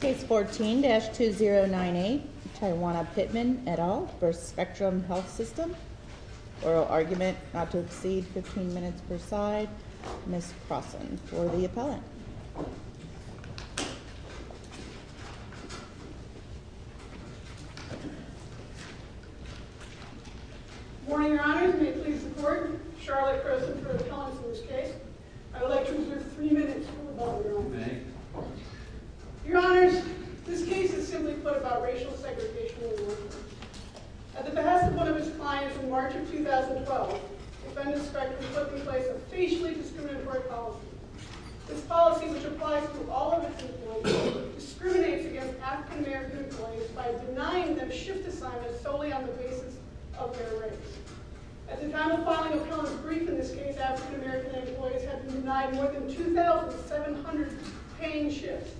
Case 14-2098, Tawana Pittman et al. v. Spectrum Health System Oral argument not to exceed 15 minutes per side. Ms. Croson for the appellant. Good morning, Your Honors. May it please the Court, Charlotte Croson for appellant in this case. I would like to reserve three minutes for a moment of your own. Thank you. Your Honors, this case is simply put about racial segregation in America. At the behest of one of his clients in March of 2012, defendant Spectrum took in place a facially discriminatory policy. This policy, which applies to all of its employees, discriminates against African American employees by denying them shift assignments solely on the basis of their race. At the time of filing appellant's brief in this case, African American employees have been denied more than 2,700 paying shifts.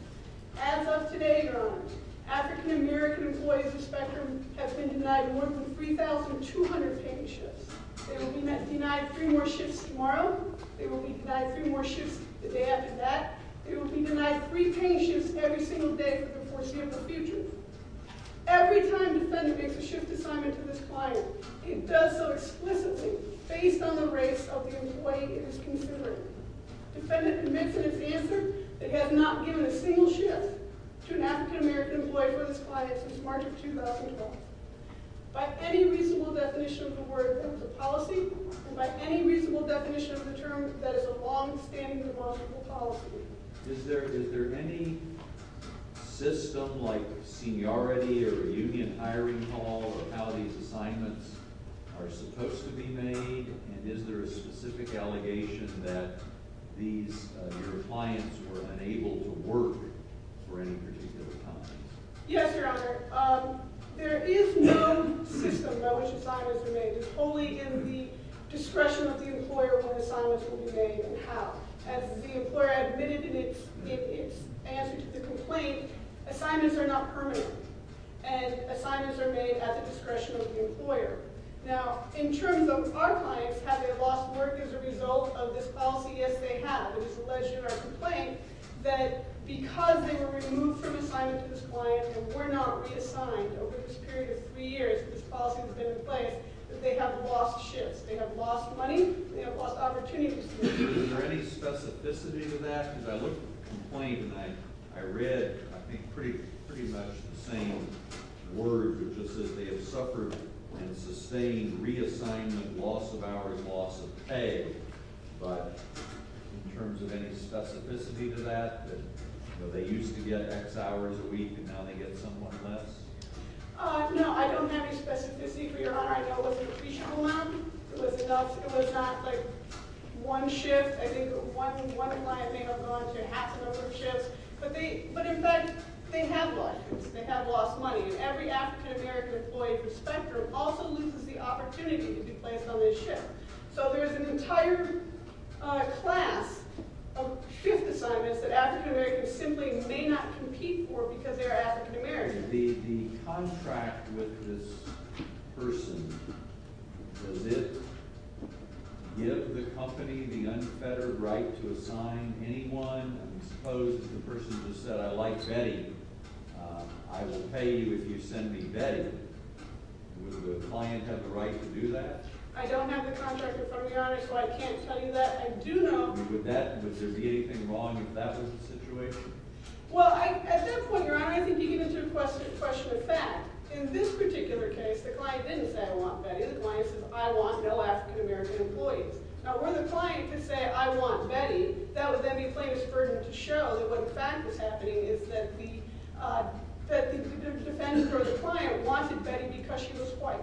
As of today, Your Honors, African American employees of Spectrum have been denied more than 3,200 paying shifts. They will be denied three more shifts tomorrow. They will be denied three more shifts the day after that. They will be denied three paying shifts every single day for the foreseeable future. Every time defendant makes a shift assignment to this client, it does so explicitly based on the race of the employee it is considering. Defendant admits in its answer that it has not given a single shift to an African American employee for this client since March of 2012. By any reasonable definition of the word policy, and by any reasonable definition of the term, that is a longstandingly wrongful policy. Is there any system like seniority or a union hiring hall of how these assignments are supposed to be made? And is there a specific allegation that your clients were unable to work for any particular time? Yes, Your Honor. There is no system by which assignments are made. It's wholly in the discretion of the employer when assignments will be made and how. As the employer admitted in its answer to the complaint, assignments are not permanent, and assignments are made at the discretion of the employer. Now, in terms of our clients, have they lost work as a result of this policy? Yes, they have. It is alleged in our complaint that because they were removed from assignment to this client and were not reassigned over this period of three years, this policy has been in place, that they have lost shifts. They have lost money. They have lost opportunities. Is there any specificity to that? Because I looked at the complaint, and I read, I think, pretty much the same words. It just says they have suffered and sustained reassignment, loss of hours, loss of pay. But in terms of any specificity to that, that they used to get X hours a week, and now they get somewhat less? No, I don't have any specificity for Your Honor. I know it was an appreciable amount. It was enough. It was not like one shift. I think one client may have gone to half a number of shifts. But, in fact, they have lost shifts. They have lost money. And every African-American employee for Spectrum also loses the opportunity to be placed on this shift. So there's an entire class of shift assignments that African-Americans simply may not compete for because they're African-Americans. The contract with this person, does it give the company the unfettered right to assign anyone? I suppose the person just said, I like Betty. I will pay you if you send me Betty. Would the client have the right to do that? I don't have the contract in front of me, Your Honor, so I can't tell you that. I do know. Would there be anything wrong if that was the situation? Well, at that point, Your Honor, I think you get into a question of fact. In this particular case, the client didn't say, I want Betty. The client says, I want no African-American employees. Now, where the client could say, I want Betty, that would then be a plaintiff's burden to show that what in fact was happening is that the defendant or the client wanted Betty because she was white.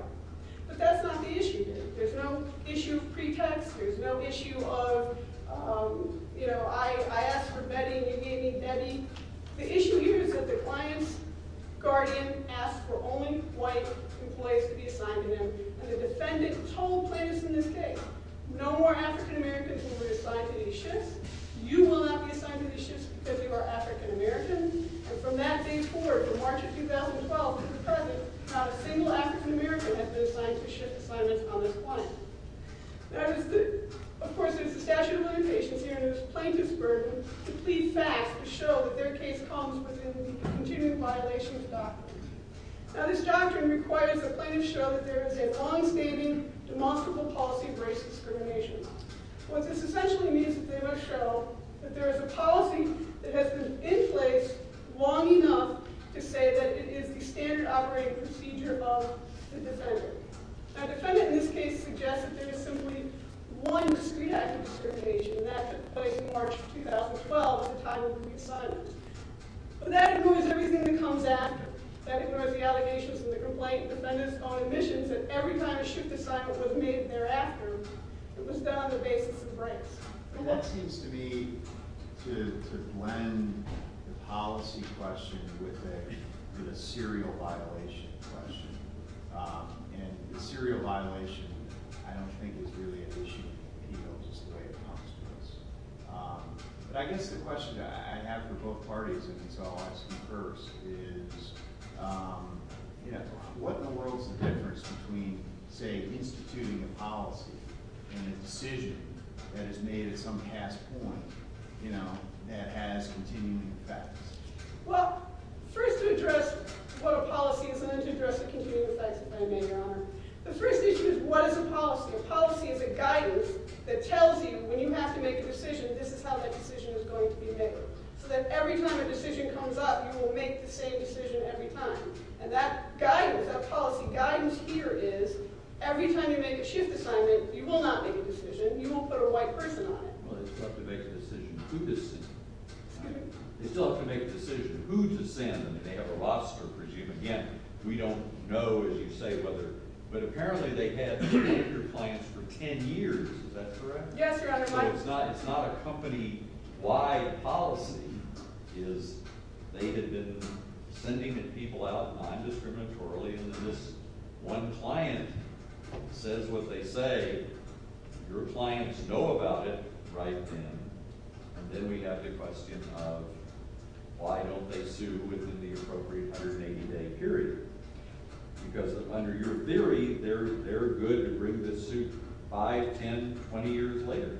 But that's not the issue here. There's no issue of pretext. There's no issue of, you know, I asked for Betty and you gave me Betty. The issue here is that the client's guardian asked for only white employees to be assigned to them. And the defendant told plaintiffs in this case, no more African-Americans will be assigned to these shifts. You will not be assigned to these shifts because you are African-American. And from that day forward, from March of 2012 to the present, not a single African-American has been assigned to shift assignments on this client. Now, of course, there's a statute of limitations here, and there's plaintiff's burden to plead facts to show that their case comes within the continuing violations of the doctrine. Now, this doctrine requires that plaintiffs show that there is a longstanding, demonstrable policy of race discrimination. What this essentially means is that they must show that there is a policy that has been in place long enough to say that it is the standard operating procedure of the defendant. Now, the defendant in this case suggests that there is simply one discrete act of discrimination, and that applies in March of 2012 at the time of the reassignment. But that ignores everything that comes after. That ignores the allegations from the complaint defendants on admissions that every time a shift assignment was made thereafter, it was done on the basis of race. And that seems to me to blend the policy question with a serial violation question. And the serial violation, I don't think, is really an issue in the appeal, just the way it comes to us. But I guess the question that I have for both parties, if it's all I see first, is what in the world is the difference between, say, instituting a policy and a decision that is made at some past point that has continuing effects? Well, first to address what a policy is, and then to address the continuing effects, if I may, Your Honor. The first issue is what is a policy? A policy is a guidance that tells you when you have to make a decision, this is how that decision is going to behave, so that every time a decision comes up, you will make the same decision every time. And that guidance, that policy guidance here is every time you make a shift assignment, you will not make a decision. You won't put a white person on it. Well, they still have to make a decision who to send, right? They still have to make a decision who to send. I mean, they have a roster, I presume. Again, we don't know, as you say, whether – but apparently they have been with your clients for ten years. Is that correct? Yes, Your Honor. So it's not a company-wide policy. It is they have been sending people out non-discriminatorily, and then this one client says what they say. Your clients know about it right then, and then we have the question of why don't they sue within the appropriate 180-day period? Because under your theory, they're good to bring the suit 5, 10, 20 years later.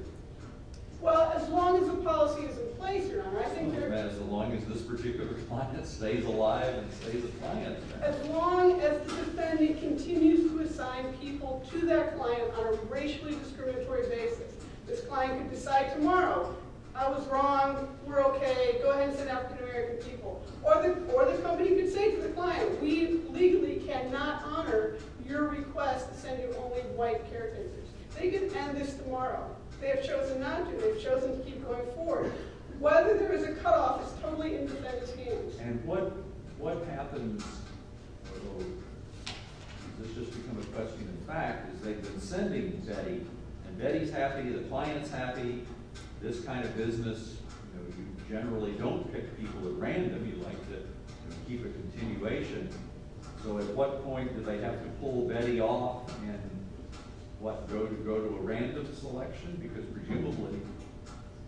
Well, as long as the policy is in place, Your Honor, I think they're – As long as this particular client stays alive and stays a client. As long as the defendant continues to assign people to that client on a racially discriminatory basis, this client can decide tomorrow, I was wrong, we're okay, go ahead and send African-American people. Or the company can say to the client, we legally cannot honor your request to send you only white characters. They can end this tomorrow. They have chosen not to. They have chosen to keep going forward. And what happens, although this has just become a question of fact, is they've been sending Betty, and Betty's happy, the client's happy. This kind of business, you generally don't pick people at random. You like to keep a continuation. So at what point do they have to pull Betty off and what, go to a random selection? Because presumably,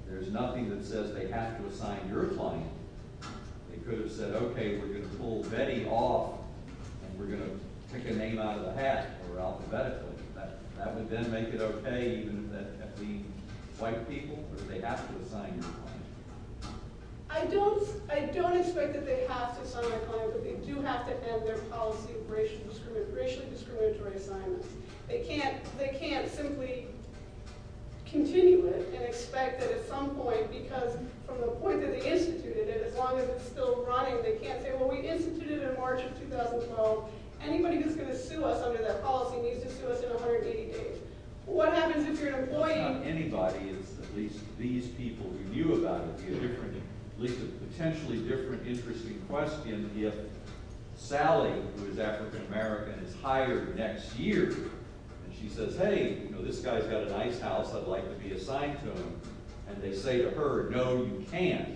there's nothing that says they have to assign your client. They could have said, okay, we're going to pull Betty off, and we're going to pick a name out of the hat, or alphabetically. That would then make it okay even if that had to be white people, or they have to assign your client. I don't expect that they have to assign their client, but they do have to end their policy of racially discriminatory assignments. They can't simply continue it and expect that at some point, because from the point that they instituted it, as long as it's still running, they can't say, well, we instituted it in March of 2012. Anybody who's going to sue us under that policy needs to sue us in 180 days. What happens if you're an employee? It's not anybody. It's at least these people who knew about it. It would be at least a potentially different, interesting question if Sally, who is African American, is hired next year, and she says, hey, this guy's got a nice house. I'd like to be assigned to him. And they say to her, no, you can't.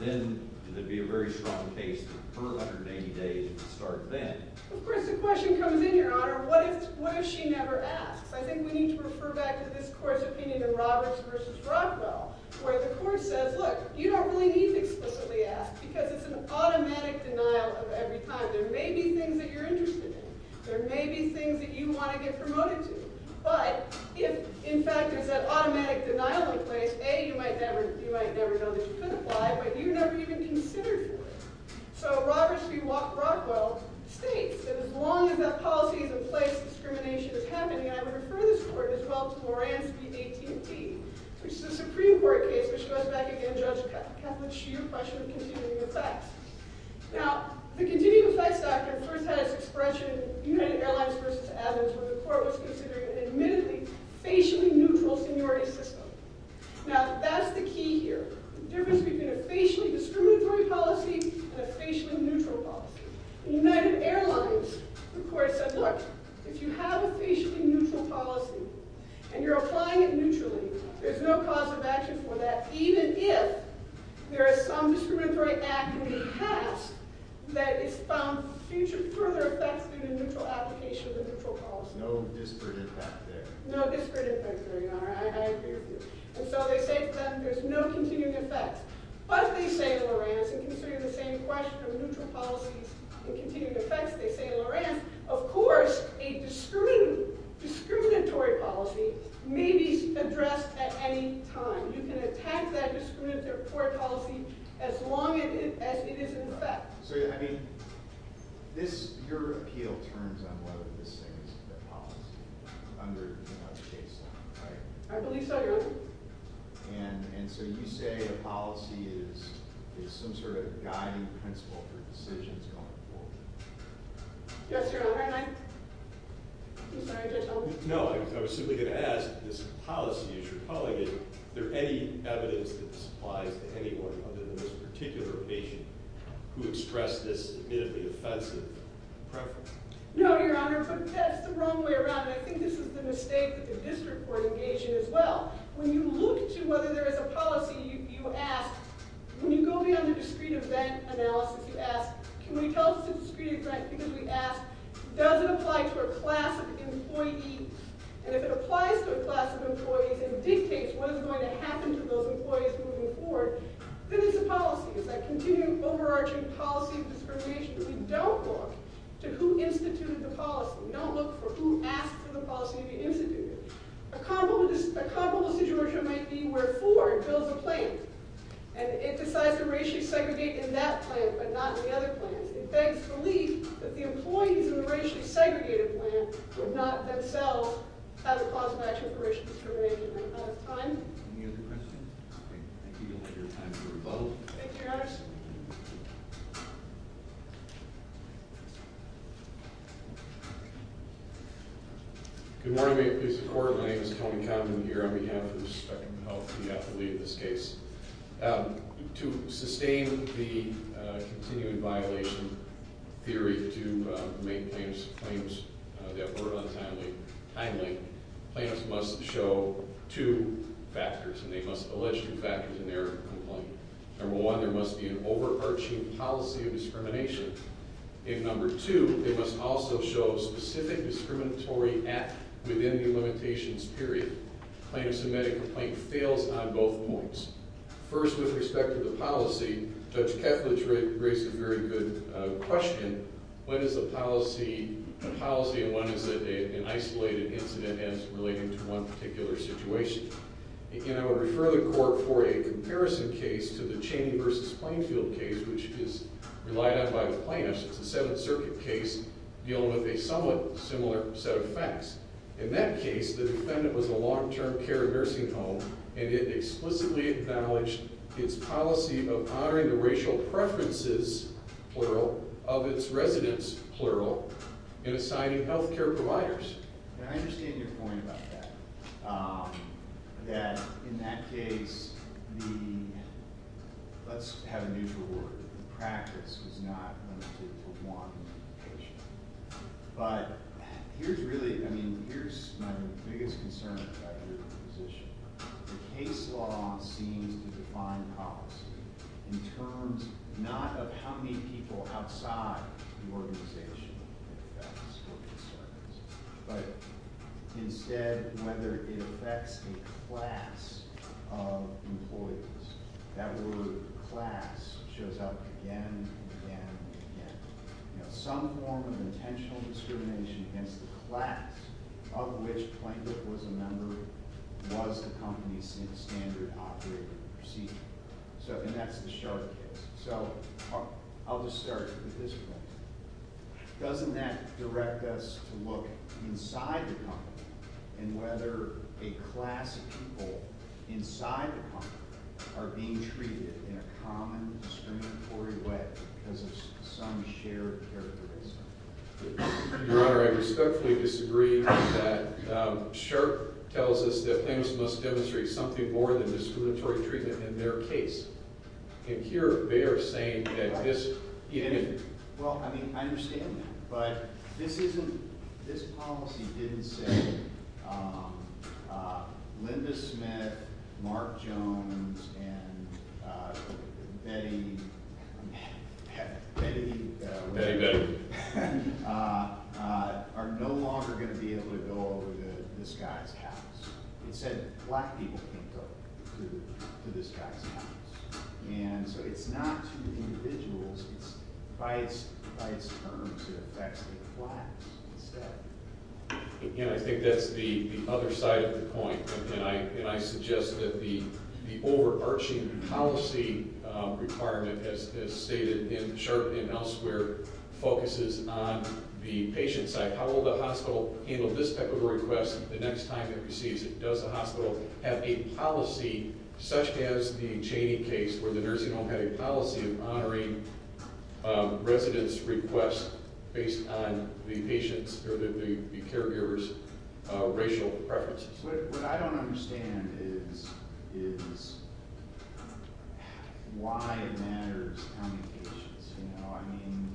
Then it would be a very strong case for her 180 days to start then. Of course, the question comes in, Your Honor. What if she never asks? I think we need to refer back to this court's opinion in Roberts versus Rockwell, where the court says, look, you don't really need to explicitly ask, because it's an automatic denial of every time. There may be things that you're interested in. There may be things that you want to get promoted to. But if, in fact, there's that automatic denial in place, A, you might never know that you could apply, but you never even considered doing it. So Roberts v. Rockwell states that as long as that policy is in place, discrimination is happening. And I would refer this court, as well, to Moran v. AT&T, which is a Supreme Court case, which goes back, again, to Judge Catholic Hsu's question of continuing effects. Now, the continuing effects doctrine first had its expression in United Airlines versus Adams, where the court was considering an admittedly facially neutral seniority system. Now, that's the key here. The difference between a facially discriminatory policy and a facially neutral policy. In United Airlines, the court said, look, if you have a facially neutral policy, and you're applying it neutrally, there's no cause of action for that, even if there is some discriminatory act being passed that has found future further effects due to neutral application of the neutral policy. No disparate impact there. No disparate impact there, Your Honor. I agree with you. And so they say, then, there's no continuing effects. But, they say in Loran's, and considering the same question of neutral policies and continuing effects, they say in Loran's, of course, a discriminatory policy may be addressed at any time. You can attack that discriminatory policy as long as it is in effect. So, I mean, this, your appeal turns on whether this thing is a good policy, under, you know, what the case is, right? I believe so, Your Honor. And, and so you say a policy is some sort of guiding principle for decisions going forward. Yes, Your Honor. And I, I'm sorry, did I tell you? No, I was simply going to ask, this policy, as you're calling it, is there any evidence that this applies to anyone other than this particular patient who expressed this admittedly offensive preference? No, Your Honor, but that's the wrong way around. And I think this is the mistake that the district court engaged in as well. When you look to whether there is a policy, you ask, when you go beyond the discrete event analysis, you ask, can we tell us the discrete event? Because we ask, does it apply to a class of employee? And if it applies to a class of employees and dictates what is going to happen to those employees moving forward, then it's a policy. As I continue overarching policy of discrimination, we don't look to who instituted the policy. We don't look for who asked for the policy to be instituted. A comparable situation might be where Ford builds a plant and it decides to racially segregate in that plant but not in the other plants. It begs belief that the employees in the racially segregated plant would not themselves have a cause matching for racial discrimination. Do we have time? Great. Thank you, Your Honor. Thank you, Your Honor. Good morning, ladies and gentlemen. My name is Tony Condon here on behalf of the Department of Health, the affiliate of this case. To sustain the continuing violation theory to make claims that were untimely, plaintiffs must show two factors, and they must allege two factors in their complaint. Number one, there must be an overarching policy of discrimination. And number two, they must also show a specific discriminatory act within the limitations period. A plaintiff's immediate complaint fails on both points. First, with respect to the policy, Judge Kethledge raised a very good question. When is the policy and when is it an isolated incident as relating to one particular situation? And I would refer the court for a comparison case to the Chaney v. Plainfield case, which is relied on by the plaintiffs. It's a Seventh Circuit case dealing with a somewhat similar set of facts. In that case, the defendant was a long-term care nursing home, and it explicitly acknowledged its policy of honoring the racial preferences, plural, of its residents, plural, in assigning health care providers. And I understand your point about that, that in that case the—let's have a neutral word—the practice was not limited to one patient. But here's really—I mean, here's my biggest concern about your position. The case law seems to define policy in terms not of how many people outside the organization it affects or concerns, but instead whether it affects a class of employees. That word class shows up again and again and again. Some form of intentional discrimination against the class of which Plainfield was a member was the company's standard operating procedure. And that's the Sharp case. So I'll just start with this point. Doesn't that direct us to look inside the company and whether a class of people inside the company are being treated in a common discriminatory way because of some shared characteristic? Your Honor, I respectfully disagree that Sharp tells us that plaintiffs must demonstrate something more than discriminatory treatment in their case. And here they are saying that this— Well, I mean, I understand that. But this isn't—this policy didn't say Linda Smith, Mark Jones, and Betty—Betty— Betty Goodwin. Are no longer going to be able to go over to this guy's house. It said black people can't go to this guy's house. And so it's not to individuals. It's by its terms it affects the class instead. Again, I think that's the other side of the point. And I suggest that the overarching policy requirement, as stated in Sharp and elsewhere, focuses on the patient side. How will the hospital handle this type of request the next time it receives it? Does the hospital have a policy, such as the Chaney case where the nursing home had a policy of honoring residents' requests based on the patient's or the caregiver's racial preferences? What I don't understand is why it matters on the patients. You know, I mean,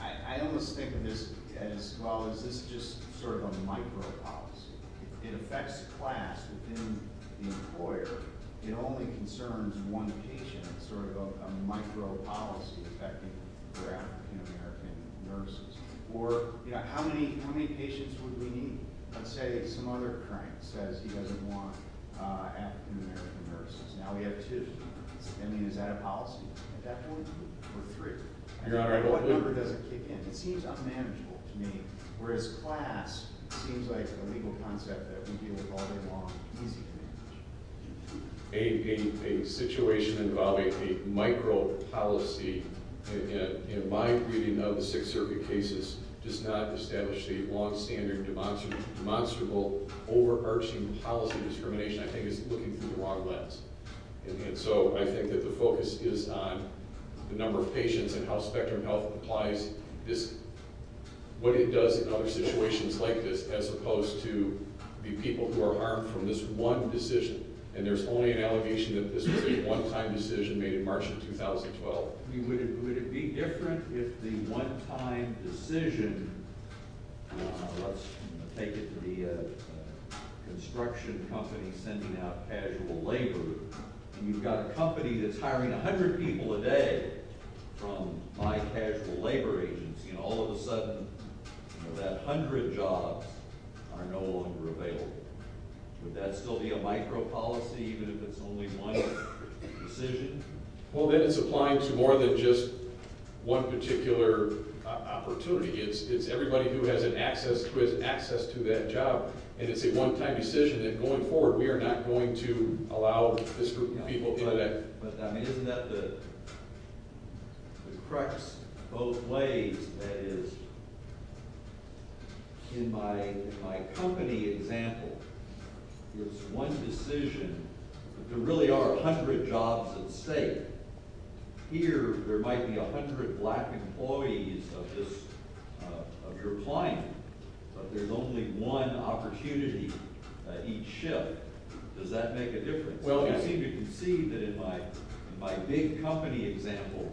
I almost think of this as, well, is this just sort of a micro-policy? It affects class within the employer. It only concerns one patient. It's sort of a micro-policy affecting African-American nurses. Or, you know, how many patients would we need? Let's say some other crank says he doesn't want African-American nurses. Now we have two. I mean, is that a policy? Or three? What number does it kick in? It seems unmanageable to me, whereas class seems like a legal concept that we deal with all day long, easy to manage. A situation involving a micro-policy, in my reading of the Sixth Circuit cases, does not establish a long-standing, demonstrable, overarching policy of discrimination. I think it's looking through the wrong lens. And so I think that the focus is on the number of patients and how Spectrum Health applies what it does in other situations like this, as opposed to the people who are harmed from this one decision. And there's only an allegation that this was a one-time decision made in March of 2012. Well, would it be different if the one-time decision, let's take it to the construction company sending out casual labor, and you've got a company that's hiring 100 people a day from my casual labor agency, and all of a sudden that 100 jobs are no longer available. Would that still be a micro-policy, even if it's only one decision? Well, then it's applying to more than just one particular opportunity. It's everybody who has access to that job, and it's a one-time decision. And going forward, we are not going to allow this group of people. But isn't that the crux of both ways? That is, in my company example, it's one decision, but there really are 100 jobs at stake. Here, there might be 100 black employees of your client, but there's only one opportunity each shift. Does that make a difference? Well, you seem to concede that in my big company example,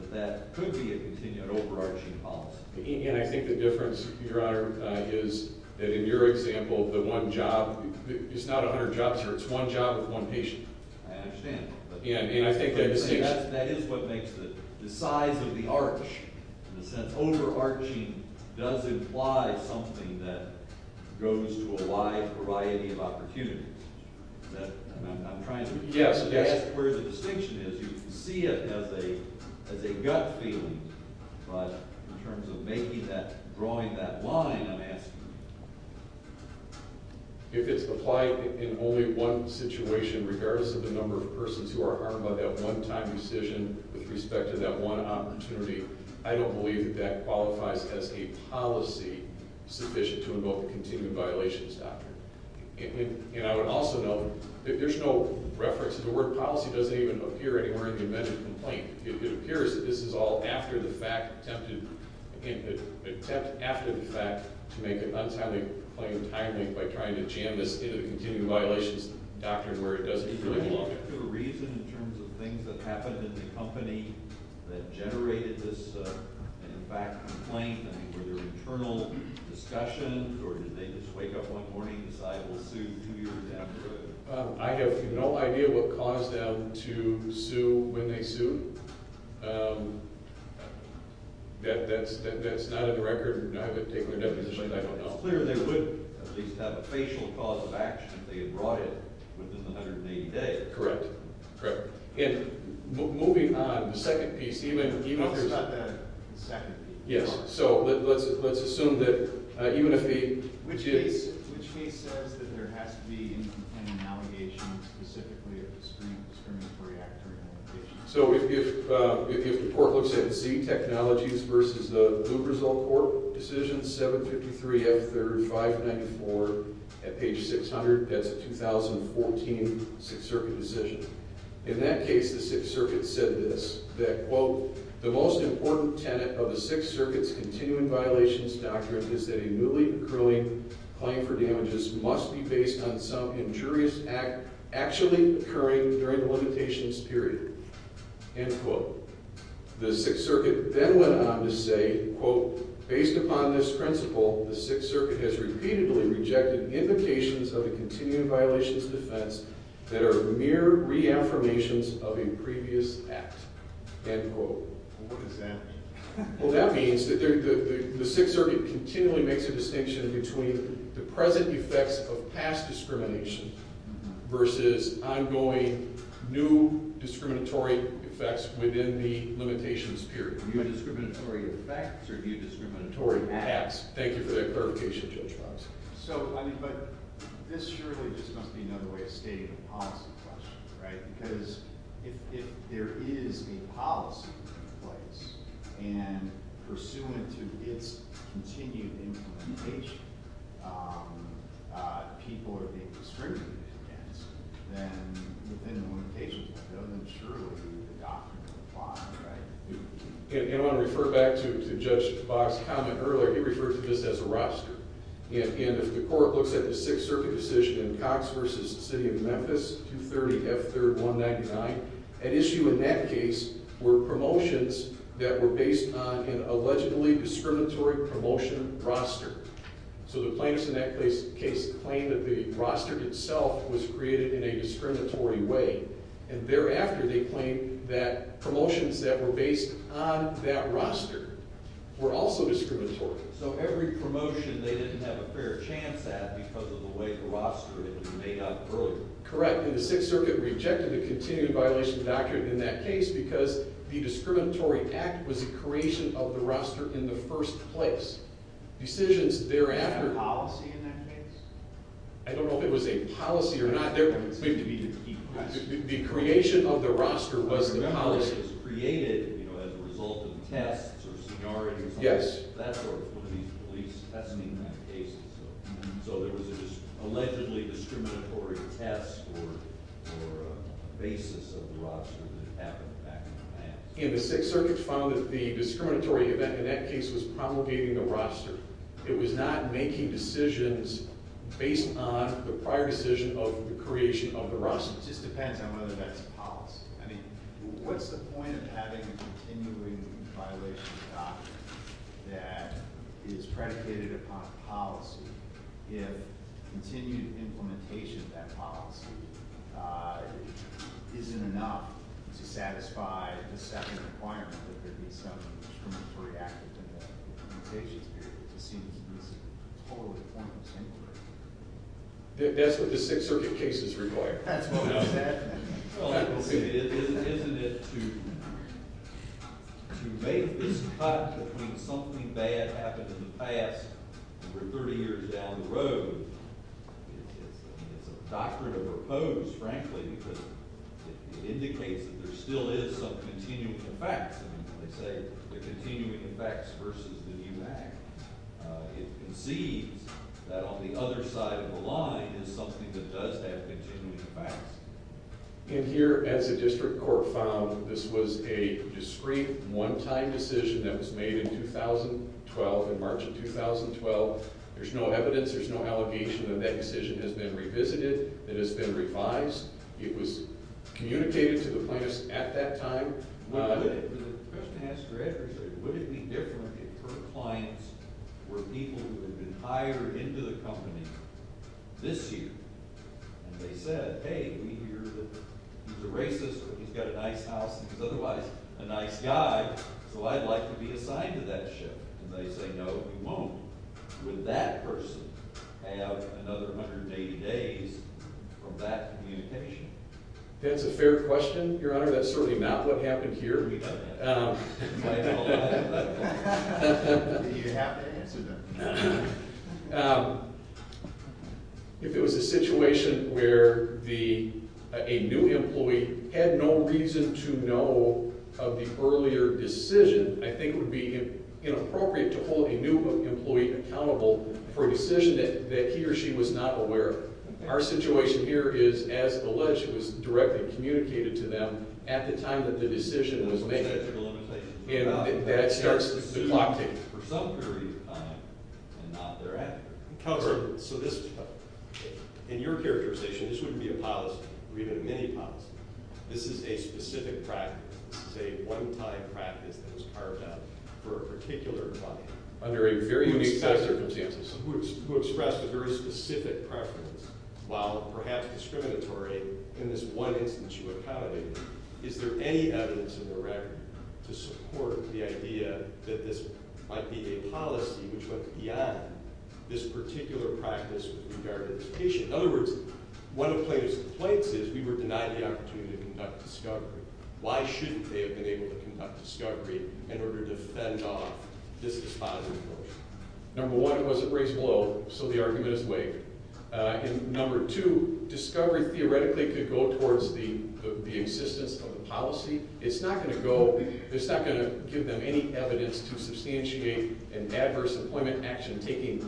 that that could be a continued overarching policy. And I think the difference, Your Honor, is that in your example of the one job, it's not 100 jobs here. It's one job with one patient. I understand. And I think that distinction— That is what makes the size of the arch. In a sense, overarching does imply something that goes to a wide variety of opportunities. I'm trying to ask where the distinction is. You can see it as a gut feeling, but in terms of making that, drawing that line, I'm asking. If it's applied in only one situation, regardless of the number of persons who are harmed by that one-time decision with respect to that one opportunity, I don't believe that qualifies as a policy sufficient to invoke a continued violations doctrine. And I would also note that there's no reference to the word policy. It doesn't even appear anywhere in the amendment complaint. It appears that this is all after the fact, attempted— an attempt after the fact to make an untimely claim timely by trying to jam this into the continued violations doctrine, where it doesn't really belong. Is there a particular reason in terms of things that happened in the company that generated this, in fact, complaint? I mean, were there internal discussions, or did they just wake up one morning and decide, we'll sue you two years afterward? I have no idea what caused them to sue when they sued. That's not on the record. I haven't taken a deposition. I don't know. But it's clear they would at least have a facial cause of action if they had brought it within 180 days. Correct. Correct. And moving on, the second piece, even— No, it's not the second piece. Yes. So let's assume that even if the— Which case says that there has to be an allegation specifically of a discriminatory act or an allegation. So if the court looks at C, technologies, versus the Blue Result Court decision, 753F3594 at page 600, that's a 2014 Sixth Circuit decision. In that case, the Sixth Circuit said this, that, quote, end quote. The Sixth Circuit then went on to say, quote, end quote. What does that mean? Well, that means that the Sixth Circuit continually makes a distinction between the present effects of past discrimination versus ongoing new discriminatory effects within the limitations period. New discriminatory effects or new discriminatory acts. Thank you for that clarification, Judge Fox. So, I mean, but this surely just must be another way of stating a policy question, right? Because if there is a policy in place, and pursuant to its continued implementation, people are being discriminated against, then within the limitations, that surely would be the doctrine of the law, right? And I want to refer back to Judge Fox's comment earlier. He referred to this as a roster. And if the court looks at the Sixth Circuit decision in Cox v. City of Memphis, 230F3199, an issue in that case were promotions that were based on an allegedly discriminatory promotion roster. So the plaintiffs in that case claimed that the roster itself was created in a discriminatory way. And thereafter, they claimed that promotions that were based on that roster were also discriminatory. So every promotion they didn't have a fair chance at because of the way the roster had been made up earlier. Correct. And the Sixth Circuit rejected the continued violation doctrine in that case because the discriminatory act was the creation of the roster in the first place. Decisions thereafter… Was that a policy in that case? I don't know if it was a policy or not. The creation of the roster was the policy. The roster was created, you know, as a result of tests or seniority. Yes. That sort of police testing in that case. So there was an allegedly discriminatory test or basis of the roster that happened back in the past. And the Sixth Circuit found that the discriminatory event in that case was promulgating the roster. It was not making decisions based on the prior decision of the creation of the roster. It just depends on whether that's a policy. I mean, what's the point of having a continuing violation doctrine that is predicated upon policy if continued implementation of that policy isn't enough to satisfy the second requirement that there be some discriminatory act in the implementation period? It just seems to be a totally pointless inquiry. That's what the Sixth Circuit cases require. That's what we said. Well, isn't it to make this cut between something bad happened in the past over 30 years down the road? It's a doctrine of repose, frankly, because it indicates that there still is some continuing effects. They say the continuing effects versus the new act. It concedes that on the other side of the line is something that does have continuing effects. And here, as the district court found, this was a discreet one-time decision that was made in 2012, in March of 2012. There's no evidence. There's no allegation that that decision has been revisited, that it's been revised. It was communicated to the plaintiffs at that time. The question I have for Ed is would it be different if her clients were people who had been hired into the company this year and they said, hey, we hear that he's a racist or he's got a nice house and he's otherwise a nice guy, so I'd like to be assigned to that shift. And they say, no, you won't. Would that person have another 180 days from that communication? That's a fair question, Your Honor. That's certainly not what happened here. If it was a situation where a new employee had no reason to know of the earlier decision, I think it would be inappropriate to hold a new employee accountable for a decision that he or she was not aware of. Our situation here is, as alleged, it was directly communicated to them at the time that the decision was made. And that starts the clock ticking. Counselor, in your characterization, this wouldn't be a policy or even a mini-policy. This is a specific practice. This is a one-time practice that was carved out for a particular client. Under a very unique set of circumstances. Who expressed a very specific preference, while perhaps discriminatory, in this one instance you accommodated. Is there any evidence in the record to support the idea that this might be a policy which went beyond this particular practice with regard to the patient? In other words, one of Plato's complaints is, we were denied the opportunity to conduct discovery. Why shouldn't they have been able to conduct discovery in order to fend off this dispositive notion? Number one, it wasn't raised well, so the argument is waived. And number two, discovery theoretically could go towards the existence of a policy. It's not going to give them any evidence to substantiate an adverse employment action taking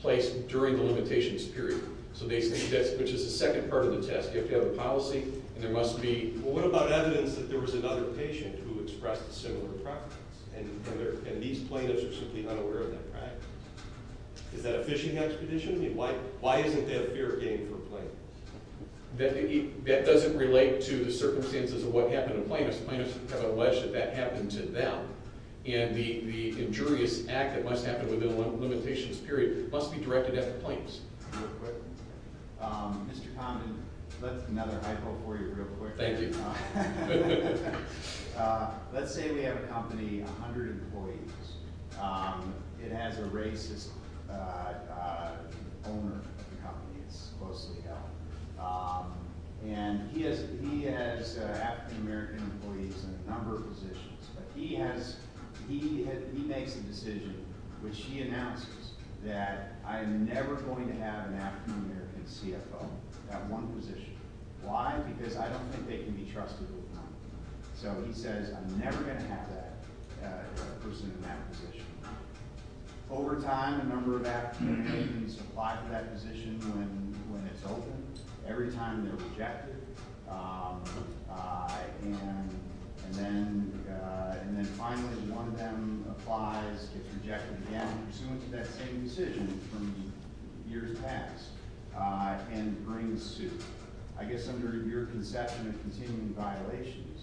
place during the limitations period. Which is the second part of the test. You have to have a policy, and there must be... What about evidence that there was another patient who expressed a similar preference? And these plaintiffs are simply unaware of that practice. Is that a fishing expedition? Why isn't there a fair game for plaintiffs? That doesn't relate to the circumstances of what happened to plaintiffs. Plaintiffs have alleged that that happened to them. And the injurious act that must happen within the limitations period must be directed at the plaintiffs. Mr. Condon, that's another hypo for you, real quick. Thank you. Let's say we have a company, 100 employees. It has a racist owner of the company. It's closely held. And he has African-American employees in a number of positions. But he makes a decision, which he announces, that I'm never going to have an African-American CFO at one position. Why? Because I don't think they can be trusted with money. So he says, I'm never going to have that person in that position. Over time, a number of African-Americans apply for that position when it's open. Every time, they're rejected. And then finally, one of them applies, gets rejected again, pursuant to that same decision from years past, and brings suit. I guess under your conception of continuing violations,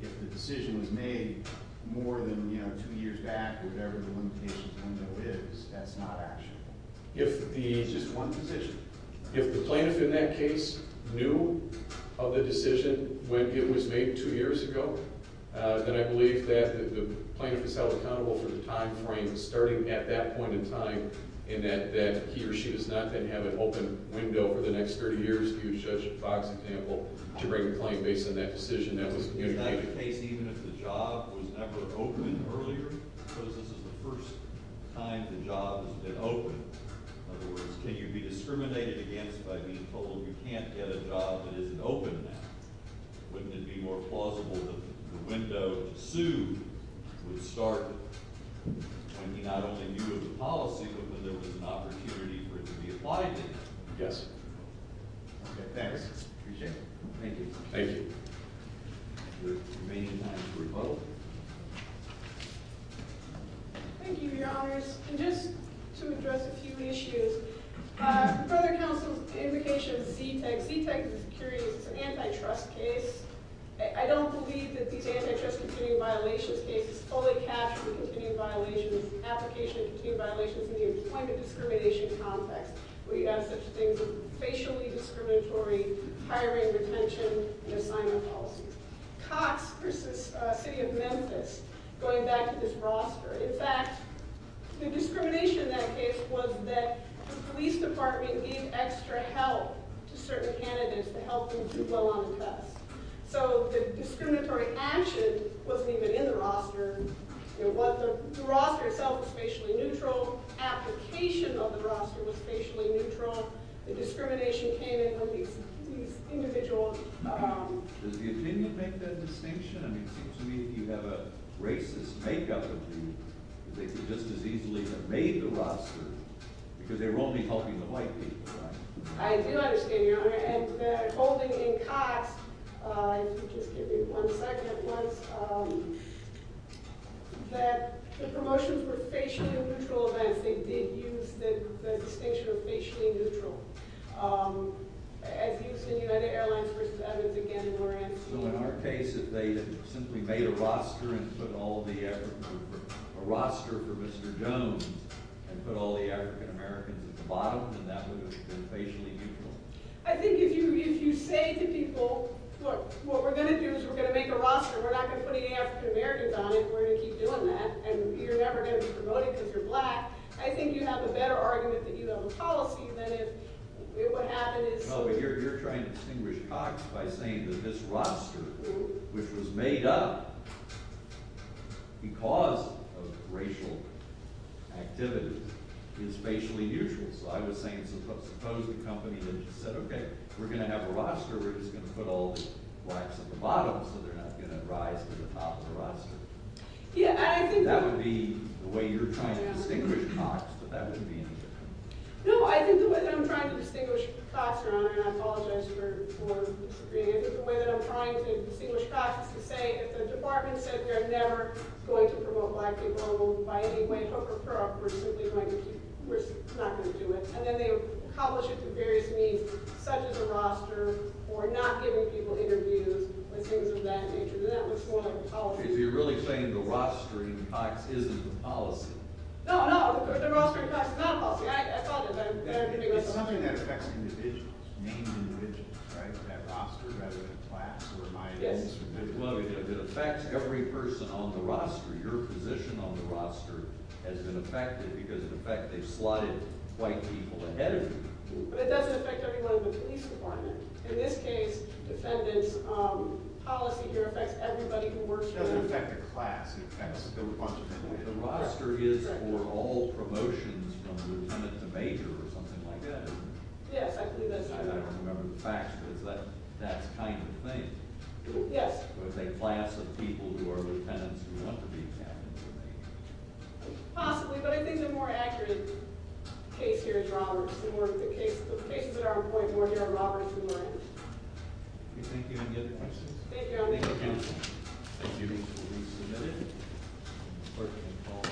if the decision was made more than two years back or whatever the limitations window is, that's not actionable. It's just one position. If the plaintiff in that case knew of the decision when it was made two years ago, then I believe that the plaintiff is held accountable for the time frame starting at that point in time, and that he or she does not then have an open window for the next 30 years, if you use Judge Fox's example, to bring a claim based on that decision that was communicated. Is that the case even if the job was never open earlier? Because this is the first time the job has been open. In other words, can you be discriminated against by being told you can't get a job that isn't open now? Wouldn't it be more plausible that the window to sue would start when he not only knew of the policy, but when there was an opportunity for it to be applied to him? Yes. Okay, thanks. Appreciate it. Thank you. Thank you. There's remaining time for a vote. Thank you, Your Honors. And just to address a few issues. Further counsel's indication of ZTEG. ZTEG is a security, it's an antitrust case. I don't believe that these antitrust continuing violations cases fully capture the continuing violations, application of continuing violations in the employment discrimination context, where you have such things as facially discriminatory hiring, retention, and assignment policies. Cox versus City of Memphis, going back to this roster. In fact, the discrimination in that case was that the police department gave extra help to certain candidates to help them do well on the test. So the discriminatory action wasn't even in the roster. The roster itself was facially neutral. Application of the roster was facially neutral. The discrimination came in from these individuals. Does the opinion make that distinction? I mean, it seems to me that you have a racist make-up of who they could just as easily have made the roster, because they were only helping the white people, right? I do understand, Your Honor. And holding in Cox, if you just give me one second at once, that the promotions were facially neutral events. They did use the distinction of facially neutral, as used in United Airlines versus Evans again in Orange County. So in our case, if they simply made a roster for Mr. Jones and put all the African-Americans at the bottom, then that would have been facially neutral? I think if you say to people, look, what we're going to do is we're going to make a roster. We're not going to put any African-Americans on it. We're going to keep doing that. And you're never going to be promoting because you're black. I think you have a better argument that you have a policy than if what happened is— No, but you're trying to distinguish Cox by saying that this roster, which was made up because of racial activity, is facially neutral. So I was saying, suppose the company said, OK, we're going to have a roster. We're just going to put all the blacks at the bottom, so they're not going to rise to the top of the roster. That would be the way you're trying to distinguish Cox, but that wouldn't be any different. No, I think the way that I'm trying to distinguish Cox, Your Honor, and I apologize for disagreeing. I think the way that I'm trying to distinguish Cox is to say if the department said we are never going to promote black people by any way, hook or crook, we're simply not going to do it. And then they accomplish it to various means, such as a roster or not giving people interviews and things of that nature. Then that looks more like a policy. So you're really saying the roster in Cox isn't a policy? No, no, the roster in Cox is not a policy. It's something that affects individuals, named individuals, right? That roster rather than class or minors. Well, it affects every person on the roster. Your position on the roster has been affected because of the fact they've slotted white people ahead of you. But it doesn't affect everyone in the police department. In this case, defendant's policy here affects everybody who works here. It doesn't affect the class. The roster is for all promotions from lieutenant to major or something like that? Yes, I believe that's correct. I don't remember the facts, but it's that kind of thing. Yes. So it's a class of people who are lieutenants who want to be captains or majors. Possibly, but I think the more accurate case here is Roberts. The cases that are on point more here are Roberts and Moran. Do you think you can get the questions? Thank you, Your Honor. Thank you, counsel. The hearing is fully submitted. The clerk can call the next case.